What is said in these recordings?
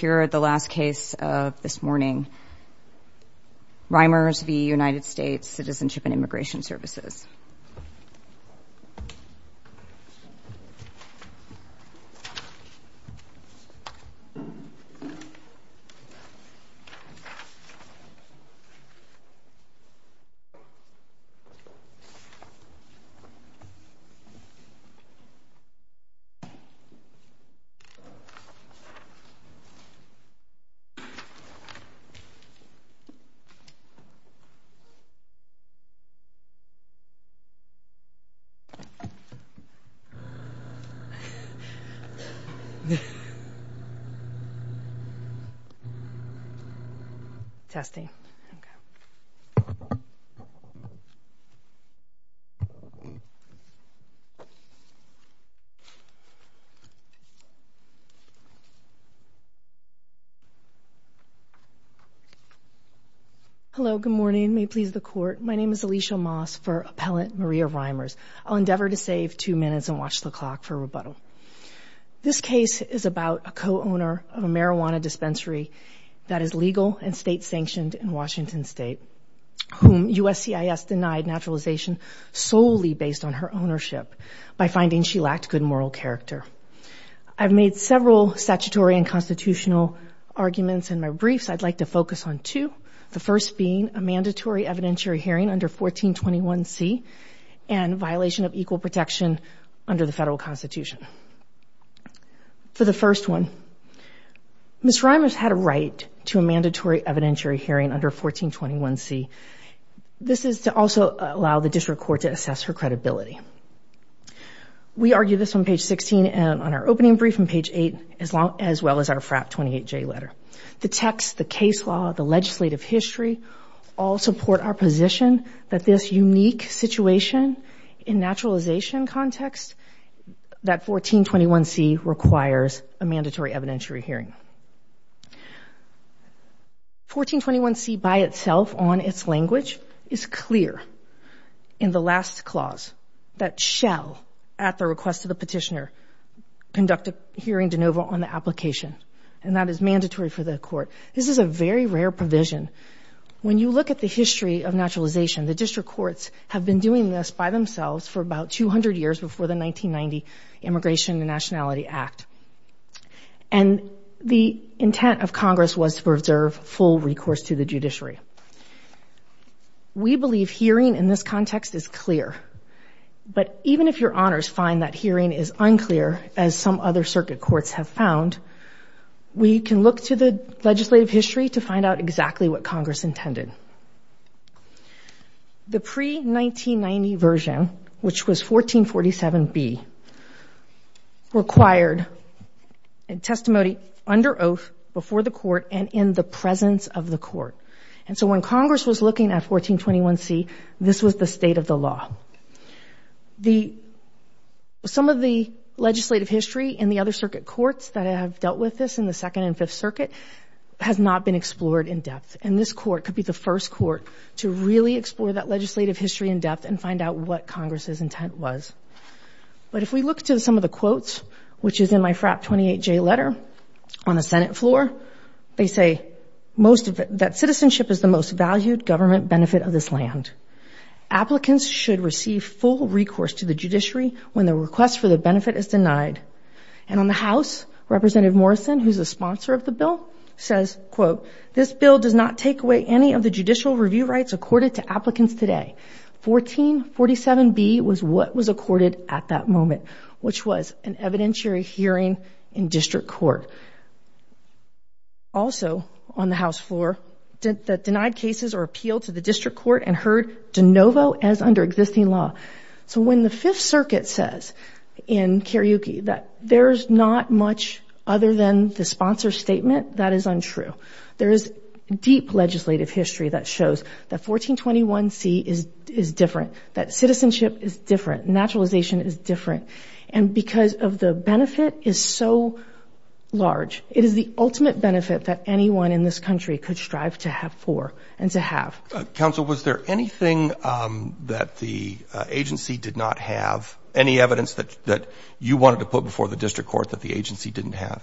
of this morning, Reimers v. United States Citizenship and Immigration Services. Good morning ladies and gentlemen great기가 have just finished the formal Hello good morning may please the court my name is Alicia Moss for appellant Maria Reimers. I'll endeavor to save two minutes and watch the clock for rebuttal. This case is about a co-owner of a marijuana dispensary that is legal and state-sanctioned in Washington State whom USCIS denied naturalization solely based on her ownership by finding she lacked good moral character. I've made several statutory and constitutional arguments in my briefs I'd like to focus on two the first being a mandatory evidentiary hearing under 1421 C and violation of equal protection under the federal Constitution. For the first one Ms. Reimers had a right to a mandatory evidentiary hearing under 1421 C. This is to also allow the district court to assess her credibility. We argue this on page 16 and on our opening brief on page 8 as long as well as our FRAP 28 J letter. The text, the case law, the legislative history all support our position that this unique situation in naturalization context that 1421 C requires a mandatory evidentiary hearing. 1421 C by itself on its language is clear in the last clause that shall at the request of the petitioner conduct a hearing de novo on the application and that is mandatory for the court. This is a very rare provision. When you look at the history of naturalization the district courts have been doing this by themselves for about 200 years before the 1990 Immigration and Nationality Act and the intent of Congress was to make sure that the legislative hearing in this context is clear but even if your honors find that hearing is unclear as some other circuit courts have found we can look to the legislative history to find out exactly what Congress intended. The pre 1990 version which was 1447 B required a testimony under oath before the court and in the presence of the court and so when Congress was looking at 1421 C this was the state of the law. Some of the legislative history in the other circuit courts that have dealt with this in the Second and Fifth Circuit has not been explored in depth and this court could be the first court to really explore that legislative history in depth and find out what Congress's intent was but if we look to some of the quotes which is in my FRAP 28 J letter on the Senate floor they say most of it that citizenship is the most valued government benefit of this land. Applicants should receive full recourse to the judiciary when the request for the benefit is denied and on the house Representative Morrison who's a sponsor of the bill says quote this bill does not take away any of the judicial review rights accorded to applicants today. 1447 B was what was accorded at that moment which was an evidentiary hearing in district court. Also on the House floor that denied cases or appeal to the district court and heard de novo as under existing law. So when the Fifth Circuit says in karaoke that there's not much other than the sponsor statement that is untrue. There is deep legislative history that shows that 1421 C is is different, that citizenship is different, naturalization is different and because of the benefit is so large it is the ultimate benefit that anyone in this country could strive to have for and to have. Counsel was there anything that the agency did not have any evidence that that you wanted to put before the district court that the agency didn't have?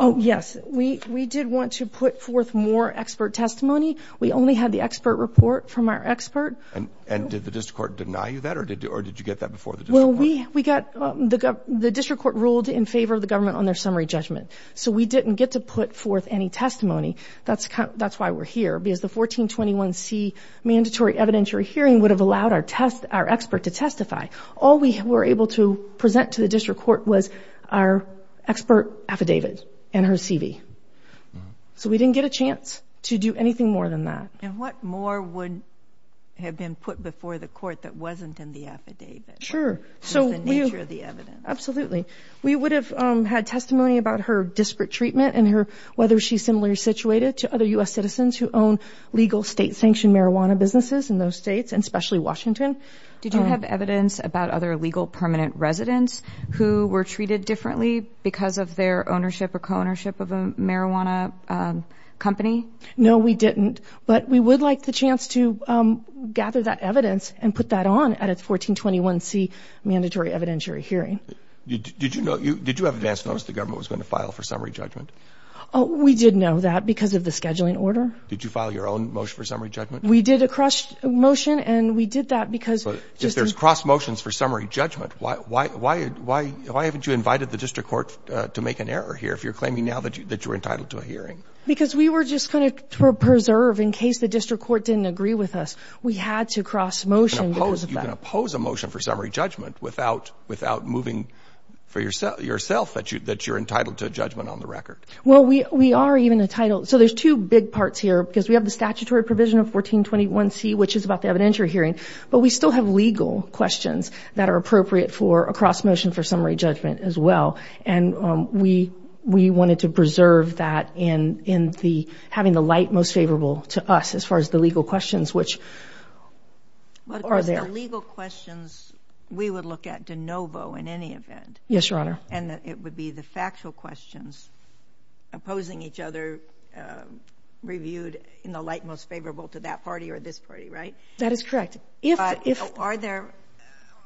Oh yes we we did want to put forth more expert testimony we only had the expert report from our expert. And and did the district court deny you that or did you or did you get that before? Well we we got the district court ruled in favor of the government on their summary judgment. So we didn't get to put forth any testimony that's that's why we're here because the 1421 C mandatory evidentiary hearing would have allowed our test our expert to testify. All we were able to present to the district court was our expert affidavit and her CV. So we didn't get a chance to do anything more than that. And what more would have been put before the affidavit? Sure. So the nature of the evidence. Absolutely. We would have had testimony about her disparate treatment and her whether she's similarly situated to other US citizens who own legal state-sanctioned marijuana businesses in those states and especially Washington. Did you have evidence about other legal permanent residents who were treated differently because of their ownership or co-ownership of a marijuana company? No we didn't but we would like the chance to gather that evidence and put that on at its 1421 C mandatory evidentiary hearing. Did you know you did you have advance notice the government was going to file for summary judgment? Oh we did know that because of the scheduling order. Did you file your own motion for summary judgment? We did a cross motion and we did that because... If there's cross motions for summary judgment why why why why why haven't you invited the district court to make an error here if you're claiming now that you that you're entitled to a hearing? Because we were just going to preserve in case the district court didn't agree with us we had to cross motion. You can oppose a motion for summary judgment without without moving for yourself that you that you're entitled to a judgment on the record. Well we we are even entitled so there's two big parts here because we have the statutory provision of 1421 C which is about the evidentiary hearing but we still have legal questions that are appropriate for a cross motion for having the light most favorable to us as far as the legal questions which are there. Legal questions we would look at de novo in any event. Yes your honor. And it would be the factual questions opposing each other reviewed in the light most favorable to that party or this party right? That is correct. If if are there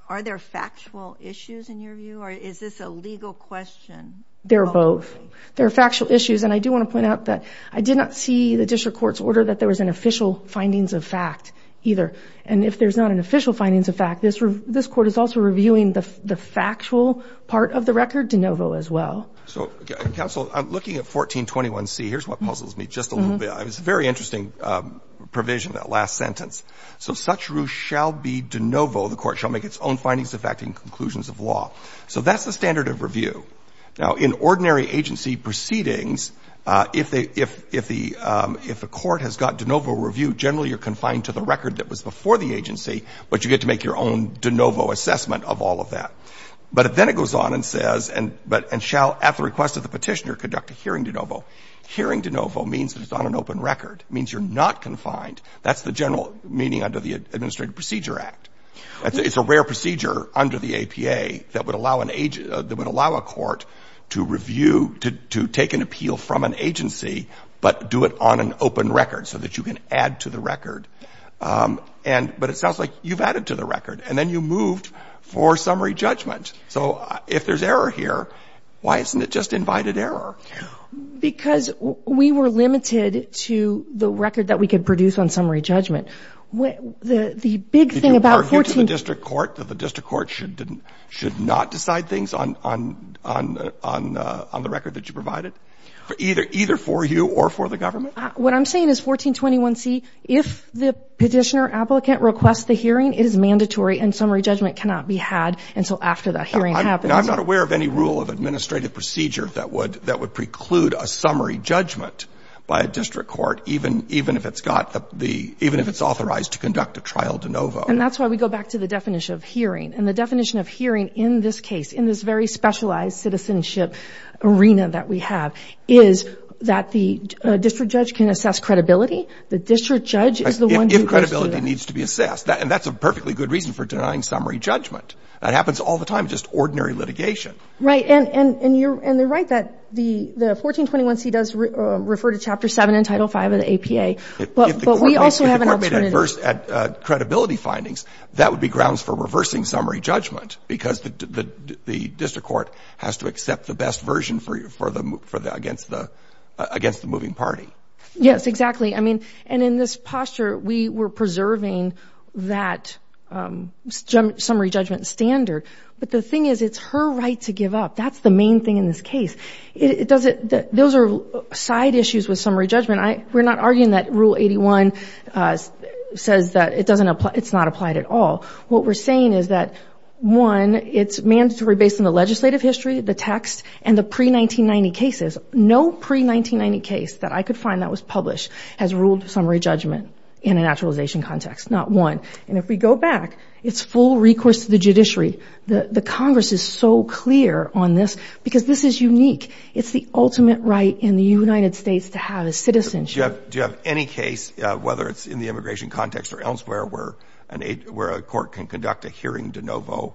are there factual issues in your view or is this a legal question? They're both. There are factual issues and I do want to point out that I did not see the district court's order that there was an official findings of fact either and if there's not an official findings of fact this this court is also reviewing the the factual part of the record de novo as well. So counsel I'm looking at 1421 C here's what puzzles me just a little bit. It's a very interesting provision that last sentence. So such ruse shall be de novo the court shall make its own findings of fact and conclusions of law. So that's the standard of review. Now in ordinary agency proceedings if they if if the if the court has got de novo review generally you're confined to the record that was before the agency but you get to make your own de novo assessment of all of that. But then it goes on and says and but and shall at the request of the petitioner conduct a hearing de novo. Hearing de novo means that it's on an open record. Means you're not confined. That's the general meaning under the Administrative Procedure Act. It's a rare procedure under the APA that would allow an age that would allow a court to review to take an appeal from an agency but do it on an open record so that you can add to the record. And but it sounds like you've added to the record and then you moved for summary judgment. So if there's error here why isn't it just invited error? Because we were limited to the record that we could produce on summary judgment. What the the big thing to the district court that the district court should didn't should not decide things on on on on on the record that you provided? Either either for you or for the government? What I'm saying is 1421C if the petitioner applicant requests the hearing it is mandatory and summary judgment cannot be had until after that hearing happens. I'm not aware of any rule of administrative procedure that would that would preclude a summary judgment by a district court even even if it's got the even if it's authorized to conduct a trial de novo. And that's why we go back to the definition of hearing and the definition of hearing in this case in this very specialized citizenship arena that we have is that the district judge can assess credibility. The district judge is the one. If credibility needs to be assessed that and that's a perfectly good reason for denying summary judgment. That happens all the time just ordinary litigation. Right and and and you're and they're right that the the 1421C does refer to Chapter 7 in Title 5 of the APA but we also have an alternative. If the court made adverse at credibility findings that would be grounds for reversing summary judgment because the the district court has to accept the best version for you for the for the against the against the moving party. Yes exactly I mean and in this posture we were preserving that summary judgment standard but the thing is it's her right to give up. That's the main thing in this case. It does it that are side issues with summary judgment. I we're not arguing that rule 81 says that it doesn't apply it's not applied at all. What we're saying is that one it's mandatory based on the legislative history the text and the pre-1990 cases. No pre-1990 case that I could find that was published has ruled summary judgment in a naturalization context. Not one. And if we go back it's full recourse to the judiciary. The the Congress is so clear on this because this is unique. It's the ultimate right in the United States to have a citizenship. Do you have any case whether it's in the immigration context or elsewhere where an aid where a court can conduct a hearing de novo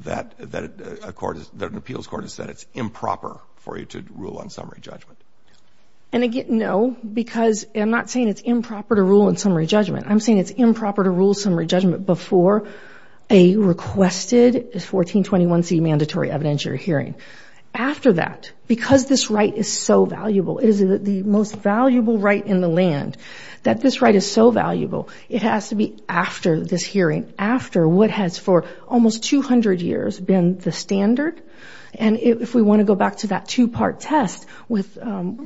that that a court that an appeals court has said it's improper for you to rule on summary judgment? And again no because I'm not saying it's improper to rule in summary judgment. I'm saying it's improper to rule summary judgment before a requested 1421c mandatory evidentiary hearing. After that because this right is so valuable it is the most valuable right in the land that this right is so valuable it has to be after this hearing after what has for almost 200 years been the standard and if we want to go back to that two-part test with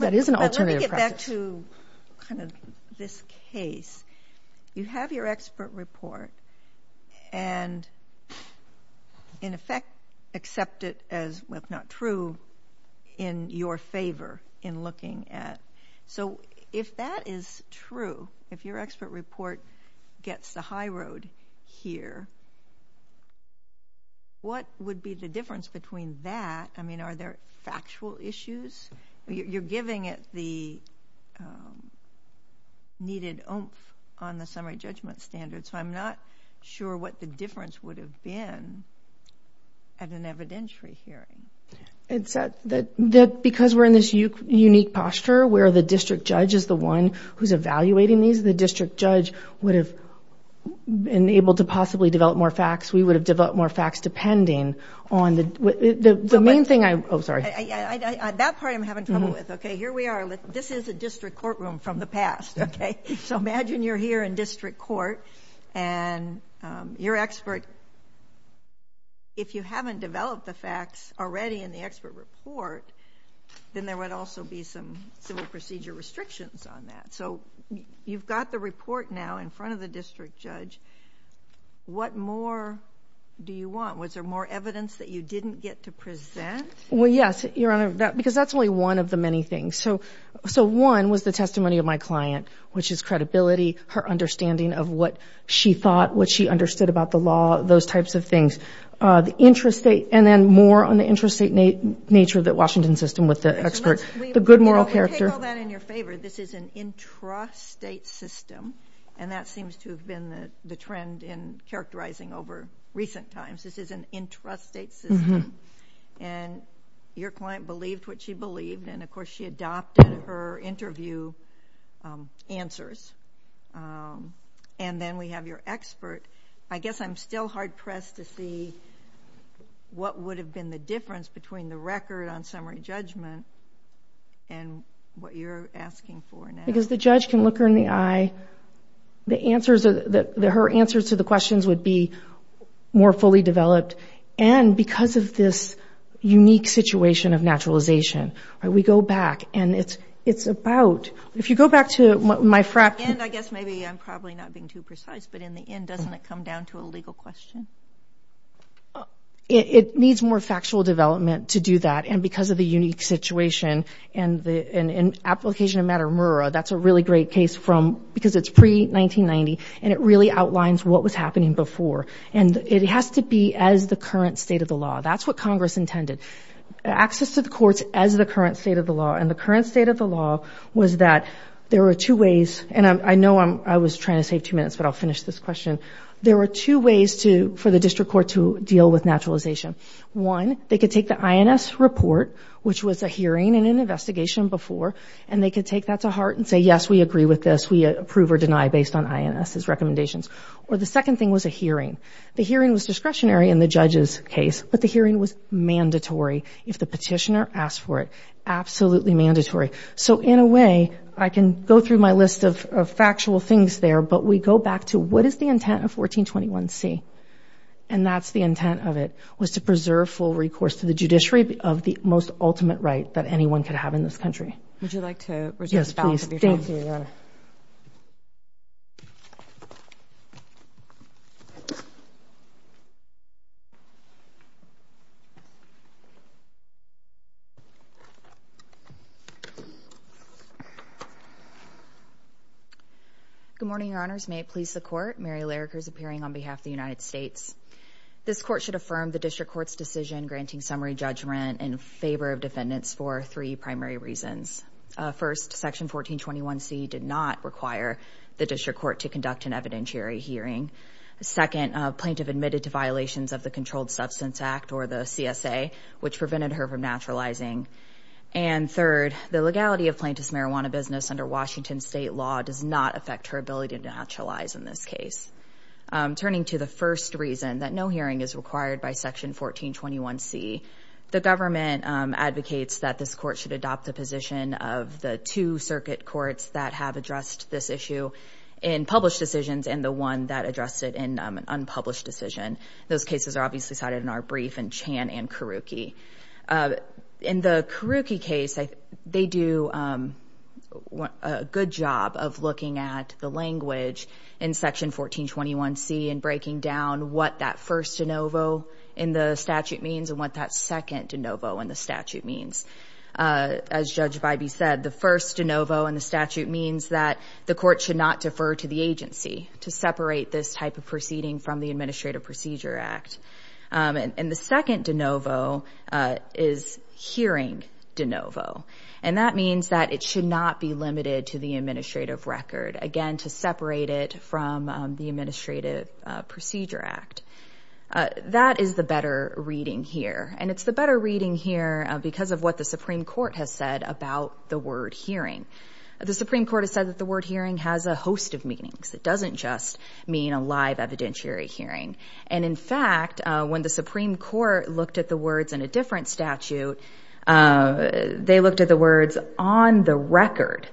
that is an alternative practice. Let me get back to this case. You have your expert report and in effect accept it as not true in your favor in looking at so if that is true if your expert report gets the high road here what would be the difference between that I mean are there factual issues you're giving it the needed oomph on the summary judgment standard so I'm not sure what the difference would have been at an evidentiary hearing. It's that because we're in this unique posture where the district judge is the one who's evaluating these the district judge would have been able to possibly develop more facts we would have developed more facts depending on the main thing I'm sorry. That part I'm having trouble with okay here we are this is a district courtroom from the past okay so imagine you're here in district court and your expert if you haven't developed the facts already in the expert report then there would also be some civil procedure restrictions on that so you've got the report now in front of the district judge what more do you want was there more evidence that you didn't get to present? Well yes your honor that because that's only one of the many things so one was the testimony of my client which is credibility her understanding of what she thought what she understood about the law those types of things the interest state and then more on the interest state nature that Washington system with the expert the good moral character. Take all that in your favor this is an intrastate system and that seems to have been the trend in characterizing over recent times this is an intrastate system and your client believed what she believed and of course she adopted her interview answers and then we have your expert I guess I'm still hard-pressed to see what would have been the difference between the record on summary judgment and what you're asking for. Because the judge can look her in the eye the answers that her answers to the questions would be more fully developed and because of this unique situation of naturalization we go back and it's it's about if you go back to my frack and I guess maybe I'm probably not being too precise but in the end doesn't it come down to a legal question. It needs more factual development to do that and because of the unique situation and the an application of matter Murrah that's a really great case from because it's pre 1990 and it really outlines what was happening before and it has to be as the current state of the law that's what Congress intended. Access to the courts as the current state of the law and the current state of the law was that there are two ways and I know I'm I was trying to save two minutes but I'll finish this question. There are two ways to for the district court to deal with naturalization. One they could take the INS report which was a hearing and an investigation before and they could take that to heart and say yes we agree with this we approve or deny based on INS recommendations or the second thing was a hearing. The hearing was discretionary in the judge's case but the hearing was mandatory if the petitioner asked for it absolutely mandatory. So in a way I can go through my list of factual things there but we go back to what is the intent of 1421 C and that's the intent of it was to preserve full recourse to the judiciary of the most ultimate right that anyone could have in this country. Good morning your honors may it please the court Mary Lariker is appearing on behalf of the United States. This court should affirm the district court's decision granting summary judgment in favor of defendants for three primary reasons. First section 1421 C did not require the district court to conduct an or the CSA which prevented her from naturalizing and third the legality of plaintiff's marijuana business under Washington state law does not affect her ability to naturalize in this case. Turning to the first reason that no hearing is required by section 1421 C the government advocates that this court should adopt the position of the two circuit courts that have addressed this issue in published decisions and the one that addressed it in an unpublished decision. Those cases are obviously cited in our brief and Chan and Karuki. In the Karuki case they do a good job of looking at the language in section 1421 C and breaking down what that first de novo in the statute means and what that second de novo in the statute means. As Judge Bybee said the first de novo in the statute means that the court should not defer to the agency to separate this type of proceeding from the Administrative Procedure Act and the second de novo is hearing de novo and that means that it should not be limited to the administrative record again to separate it from the Administrative Procedure Act. That is the better reading here and it's the better reading here because of what the Supreme Court has said about the word hearing. The Supreme Court has said that the word hearing has a host of meanings it doesn't just mean a live evidentiary hearing and in fact when the Supreme Court looked at the words in a different statute they looked at the words on the record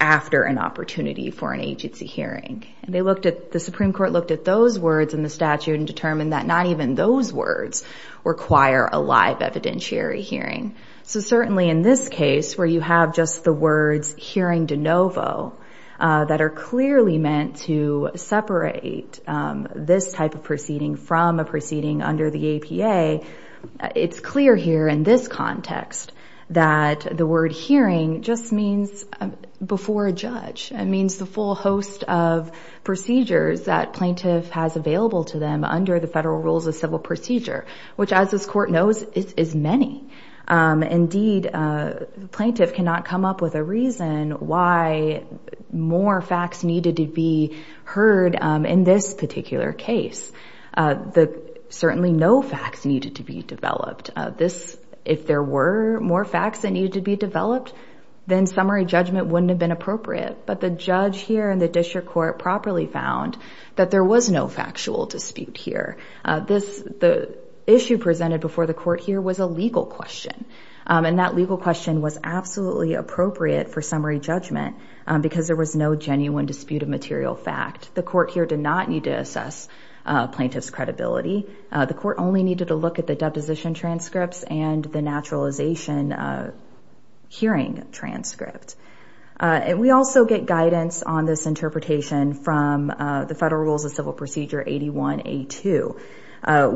after an opportunity for an agency hearing. They looked at the Supreme Court looked at those words in the statute and determined that not even those words require a live evidentiary hearing. So certainly in this case where you have just the words hearing de novo that are clearly meant to separate this type of proceeding from a proceeding under the APA it's clear here in this context that the word hearing just means before a judge. It means the full host of procedures that plaintiff has available to them under the federal rules of civil procedure which as this court knows is many. Indeed plaintiff cannot come up with a reason why more facts needed to be heard in this particular case. Certainly no facts needed to be developed. If there were more facts that needed to be developed then summary judgment wouldn't have been appropriate but the judge here and the district court properly found that there was no factual dispute here. The issue presented before the court here was a legal question was absolutely appropriate for summary judgment because there was no genuine dispute of material fact. The court here did not need to assess plaintiff's credibility. The court only needed to look at the deposition transcripts and the naturalization hearing transcript. We also get guidance on this interpretation from the federal rules of civil procedure 81A2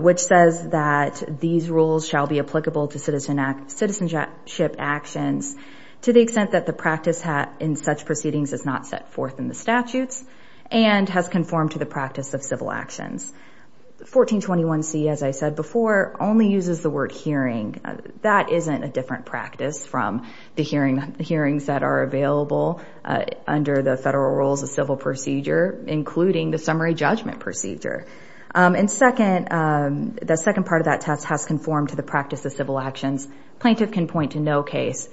which says that these rules shall be applicable to citizenship actions to the extent that the practice in such proceedings is not set forth in the statutes and has conformed to the practice of civil actions. 1421C as I said before only uses the word hearing. That isn't a different practice from the hearings that are available under the federal rules of civil procedure including the summary judgment procedure. The second part of that test has conformed to the plaintiff can point to no case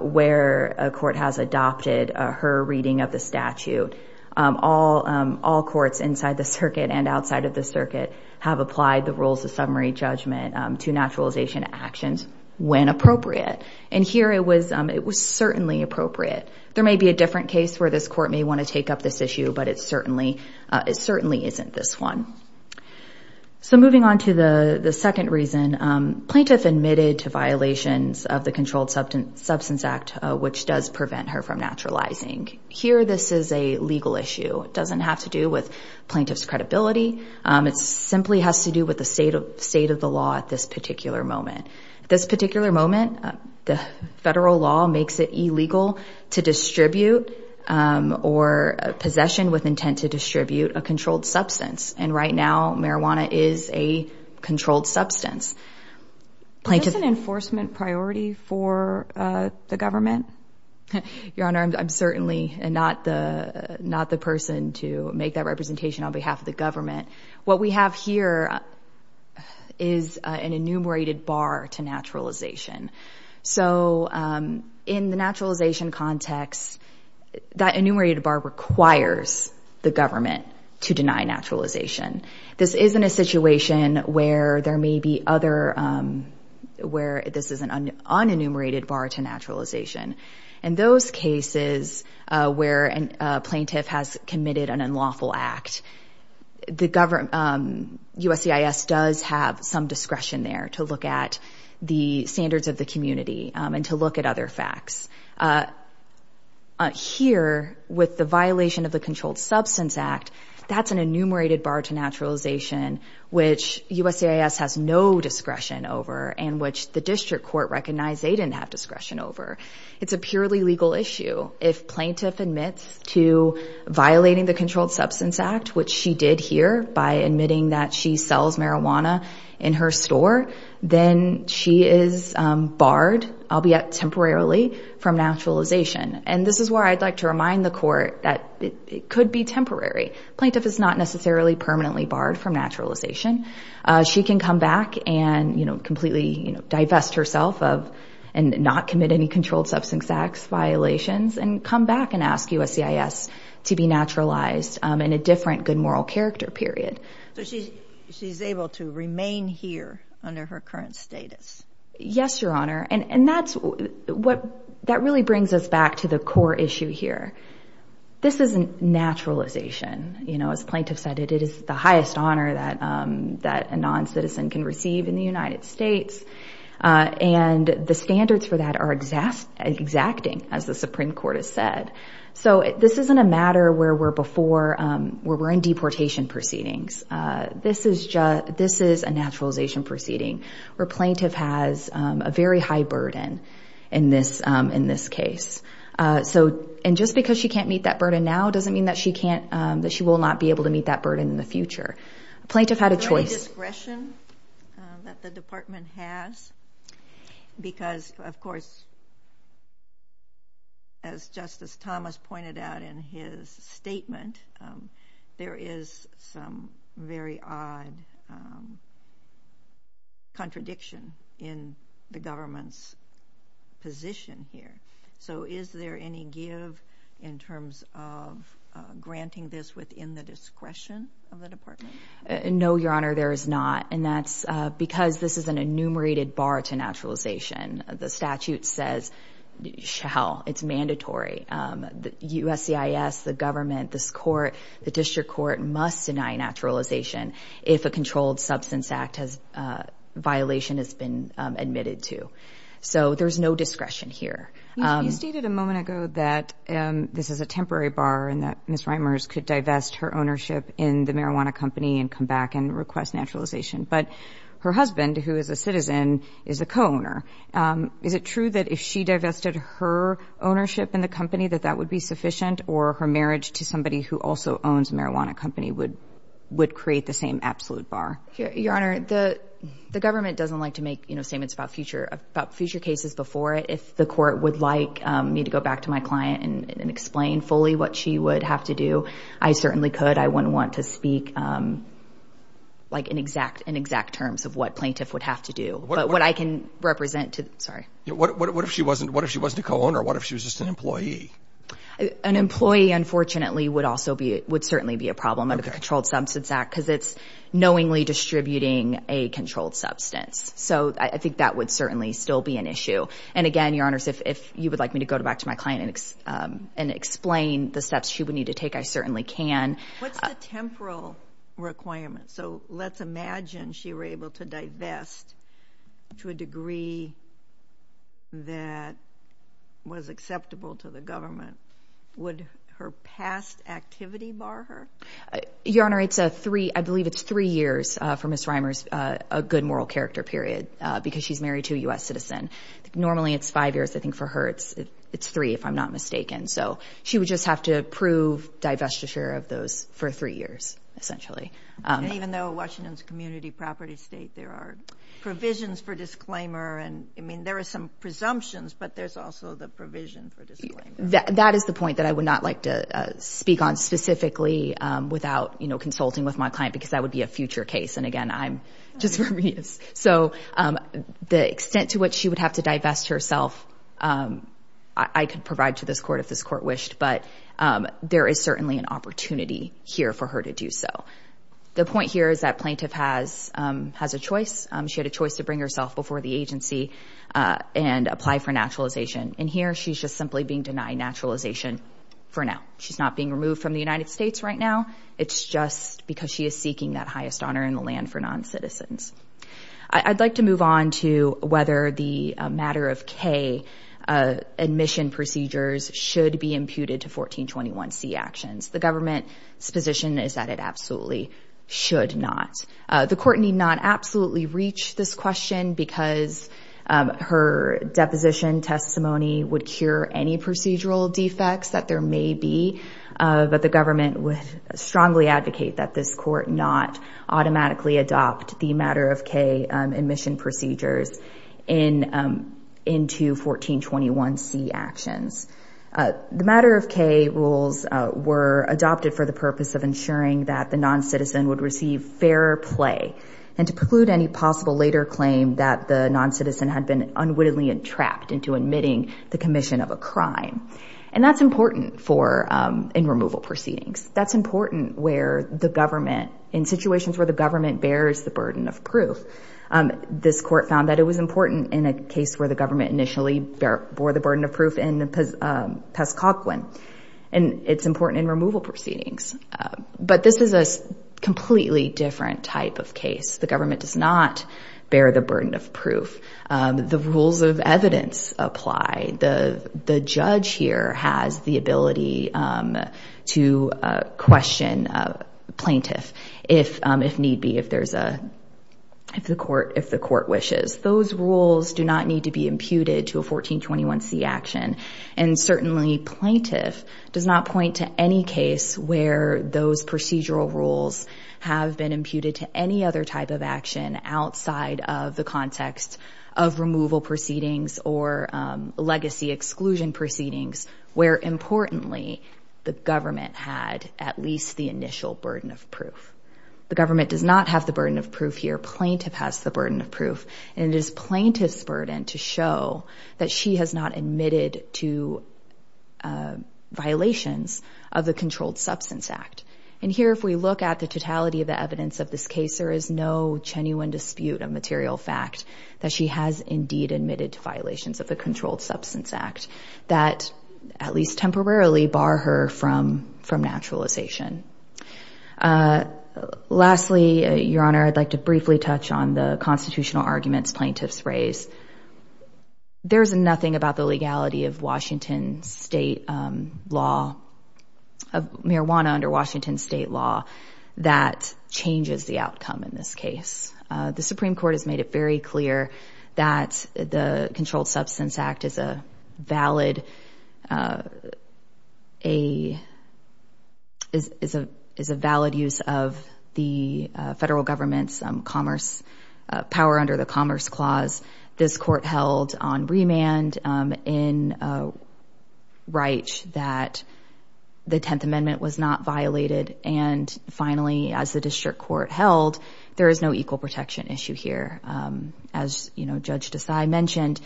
where a court has adopted her reading of the statute. All courts inside the circuit and outside of the circuit have applied the rules of summary judgment to naturalization actions when appropriate and here it was it was certainly appropriate. There may be a different case where this court may want to take up this issue but it certainly isn't this one. So moving on to the the second reason plaintiff admitted to violations of the Controlled Substance Act which does prevent her from naturalizing. Here this is a legal issue. It doesn't have to do with plaintiff's credibility. It simply has to do with the state of the law at this particular moment. This particular moment the federal law makes it illegal to distribute or possession with intent to distribute a controlled substance and right now marijuana is a controlled substance. Is this an enforcement priority for the government? Your honor I'm certainly not the not the person to make that representation on behalf of the government. What we have here is an enumerated bar to naturalization. So in the naturalization context that enumerated bar requires the government to deny naturalization. This isn't a situation where there may be other where this is an unenumerated bar to naturalization. In those cases where a plaintiff has committed an unlawful act the government USCIS does have some discretion there to look at the with the violation of the Controlled Substance Act that's an enumerated bar to naturalization which USCIS has no discretion over and which the district court recognized they didn't have discretion over. It's a purely legal issue. If plaintiff admits to violating the Controlled Substance Act which she did here by admitting that she sells marijuana in her store then she is barred albeit temporarily from naturalization. And this is where I'd like to remind the court that it could be temporary. Plaintiff is not necessarily permanently barred from naturalization. She can come back and you know completely you know divest herself of and not commit any Controlled Substance Acts violations and come back and ask USCIS to be naturalized in a different good moral character period. So she's able to remain here under her current status? Yes your honor and that's what that really brings us back to the core issue here. This isn't naturalization you know as plaintiff said it is the highest honor that that a non-citizen can receive in the United States and the standards for that are exacting as the Supreme Court has said. So this isn't a matter where we're before where we're in deportation proceedings. This is just this is a naturalization proceeding where plaintiff has a very high burden in this in this case. So and just because she can't meet that burden now doesn't mean that she can't that she will not be able to meet that burden in the future. Plaintiff had a choice. Discretion that the department has because of course as Justice Thomas pointed out in his statement there is some very odd contradiction in the government's position here. So is there any give in terms of granting this within the discretion of the department? No your honor there is not and that's because this is an enumerated bar to naturalization. The statute says shall it's mandatory. The USCIS, the government, this court, the district court must deny naturalization if a controlled substance act has violation has been admitted to. So there's no discretion here. You stated a moment ago that this is a temporary bar and that Ms. Reimers could divest her ownership in the marijuana company and come back and request naturalization. But her husband who is a citizen is a co- ownership in the company that that would be sufficient or her marriage to somebody who also owns marijuana company would would create the same absolute bar. Your honor the the government doesn't like to make you know statements about future about future cases before it. If the court would like me to go back to my client and explain fully what she would have to do I certainly could. I wouldn't want to speak like an exact in exact terms of what plaintiff would have to do but what I can represent to sorry. What if she wasn't what if she wasn't a plaintiff she was just an employee? An employee unfortunately would also be it would certainly be a problem under the Controlled Substance Act because it's knowingly distributing a controlled substance. So I think that would certainly still be an issue and again your honors if you would like me to go back to my client and explain the steps she would need to take I certainly can. What's the temporal requirement? So let's imagine she were able to divest to a that was acceptable to the government would her past activity bar her? Your honor it's a three I believe it's three years for Miss Reimers a good moral character period because she's married to a US citizen. Normally it's five years I think for her it's it's three if I'm not mistaken so she would just have to prove divestiture of those for three years essentially. Even though Washington's property state there are provisions for disclaimer and I mean there are some presumptions but there's also the provision. That is the point that I would not like to speak on specifically without you know consulting with my client because that would be a future case and again I'm just so the extent to what she would have to divest herself I could provide to this court if this court wished but there is certainly an opportunity here for her to do so. The has a choice she had a choice to bring herself before the agency and apply for naturalization in here she's just simply being denied naturalization for now. She's not being removed from the United States right now it's just because she is seeking that highest honor in the land for non-citizens. I'd like to move on to whether the matter of K admission procedures should be imputed to 1421 C actions. The government's position is that it absolutely should not. The court need not absolutely reach this question because her deposition testimony would cure any procedural defects that there may be but the government would strongly advocate that this court not automatically adopt the matter of K admission procedures in into 1421 C actions. The matter of K rules were adopted for the purpose of ensuring that the non-citizen would receive fair play and to preclude any possible later claim that the non-citizen had been unwittingly entrapped into admitting the commission of a crime and that's important for in removal proceedings. That's important where the government in situations where the government bears the burden of proof. This court found that it was important in a case where the government initially bore the burden of proof in the Pescaquen and it's important in removal proceedings but this is a completely different type of case. The government does not bear the burden of proof. The rules of evidence apply. The judge here has the ability to question plaintiff if need be if there's a if the court if the court wishes. Those rules do not need to be imputed to a 1421 C action and certainly plaintiff does not point to any case where those procedural rules have been imputed to any other type of action outside of the context of removal proceedings or legacy exclusion proceedings where importantly the government had at least the initial burden of proof. The government does not have the burden of proof here. Plaintiff has the burden of proof and it is plaintiff's burden to show that she has not admitted to violations of the Controlled Substance Act and here if we look at the totality of the evidence of this case there is no genuine dispute of material fact that she has indeed admitted to violations of the Controlled Substance Act that at least temporarily bar her from from naturalization. Lastly your honor I'd like to briefly touch on the constitutional arguments plaintiffs raise. There's nothing about the legality of Washington state law of marijuana under Washington state law that changes the outcome in this case. The Supreme is a valid a is a is a valid use of the federal government's commerce power under the Commerce Clause. This court held on remand in Wright that the 10th Amendment was not violated and finally as the district court held there is no judge decide mentioned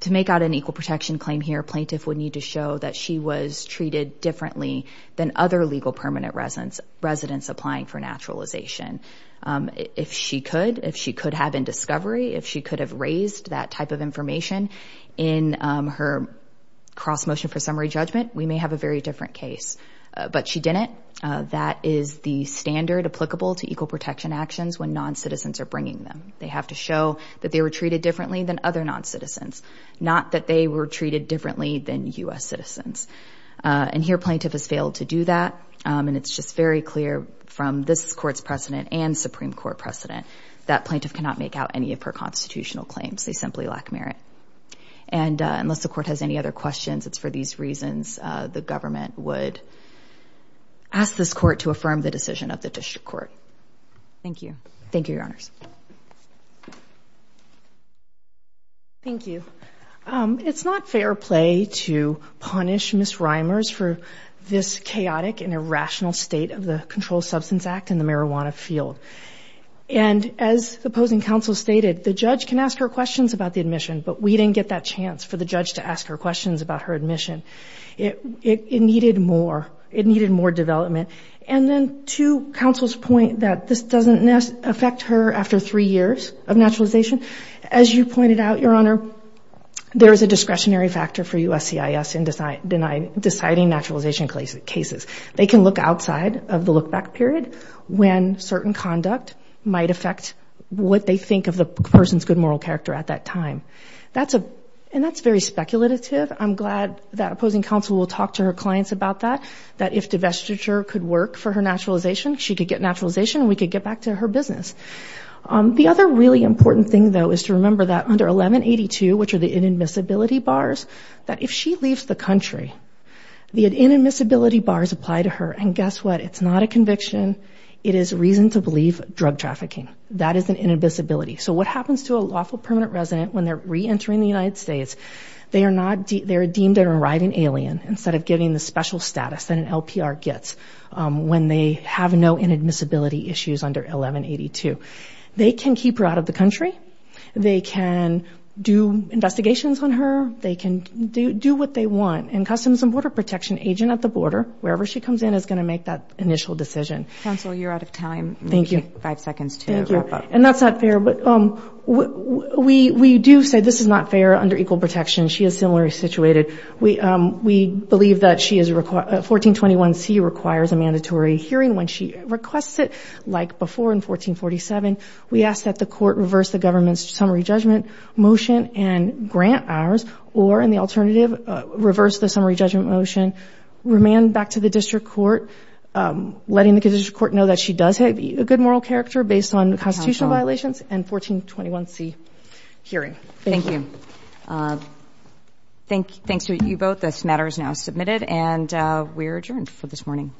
to make out an equal protection claim here plaintiff would need to show that she was treated differently than other legal permanent residence residents applying for naturalization. If she could if she could have in discovery if she could have raised that type of information in her cross motion for summary judgment we may have a very different case but she didn't that is the standard applicable to equal protection actions when non-citizens are bringing them. They have to show that they were treated differently than other non-citizens not that they were treated differently than US citizens and here plaintiff has failed to do that and it's just very clear from this court's precedent and Supreme Court precedent that plaintiff cannot make out any of her constitutional claims they simply lack merit and unless the court has any other questions it's for these reasons the government would ask this court to affirm the decision of the district court. Thank you. Thank you, Your Honors. Thank you. It's not fair play to punish Ms. Reimers for this chaotic and irrational state of the Controlled Substance Act in the marijuana field and as opposing counsel stated the judge can ask her questions about the admission but we didn't get that chance for the judge to ask her questions about her admission. It needed more it needed more development and then two counsel's point that this doesn't affect her after three years of naturalization as you pointed out, Your Honor, there is a discretionary factor for USCIS in deciding naturalization cases. They can look outside of the look-back period when certain conduct might affect what they think of the person's good moral character at that time. That's a and that's very speculative. I'm glad that opposing counsel will talk to her clients about that that if divestiture could work for her naturalization she could get back to her business. The other really important thing though is to remember that under 1182 which are the inadmissibility bars that if she leaves the country the inadmissibility bars apply to her and guess what it's not a conviction it is reason to believe drug trafficking. That is an inadmissibility. So what happens to a lawful permanent resident when they're re-entering the United States they are not they're deemed a riding alien instead of getting the special status that an LPR gets when they have no inadmissibility issues under 1182. They can keep her out of the country. They can do investigations on her. They can do what they want and Customs and Border Protection agent at the border wherever she comes in is going to make that initial decision. Counsel you're out of time. Thank you. Five seconds to wrap up. And that's not fair but we do say this is not fair under equal protection. She is similarly situated. We believe that she is required 1421 C requires a mandatory hearing when she requests it like before in 1447. We ask that the court reverse the government's summary judgment motion and grant hours or in the alternative reverse the summary judgment motion remand back to the district court letting the district court know that she does have a good moral character based on the constitutional violations and 1421 C hearing. Thank you. Uh, thanks. Thanks to you both. This matter is now submitted and we're adjourned for this morning.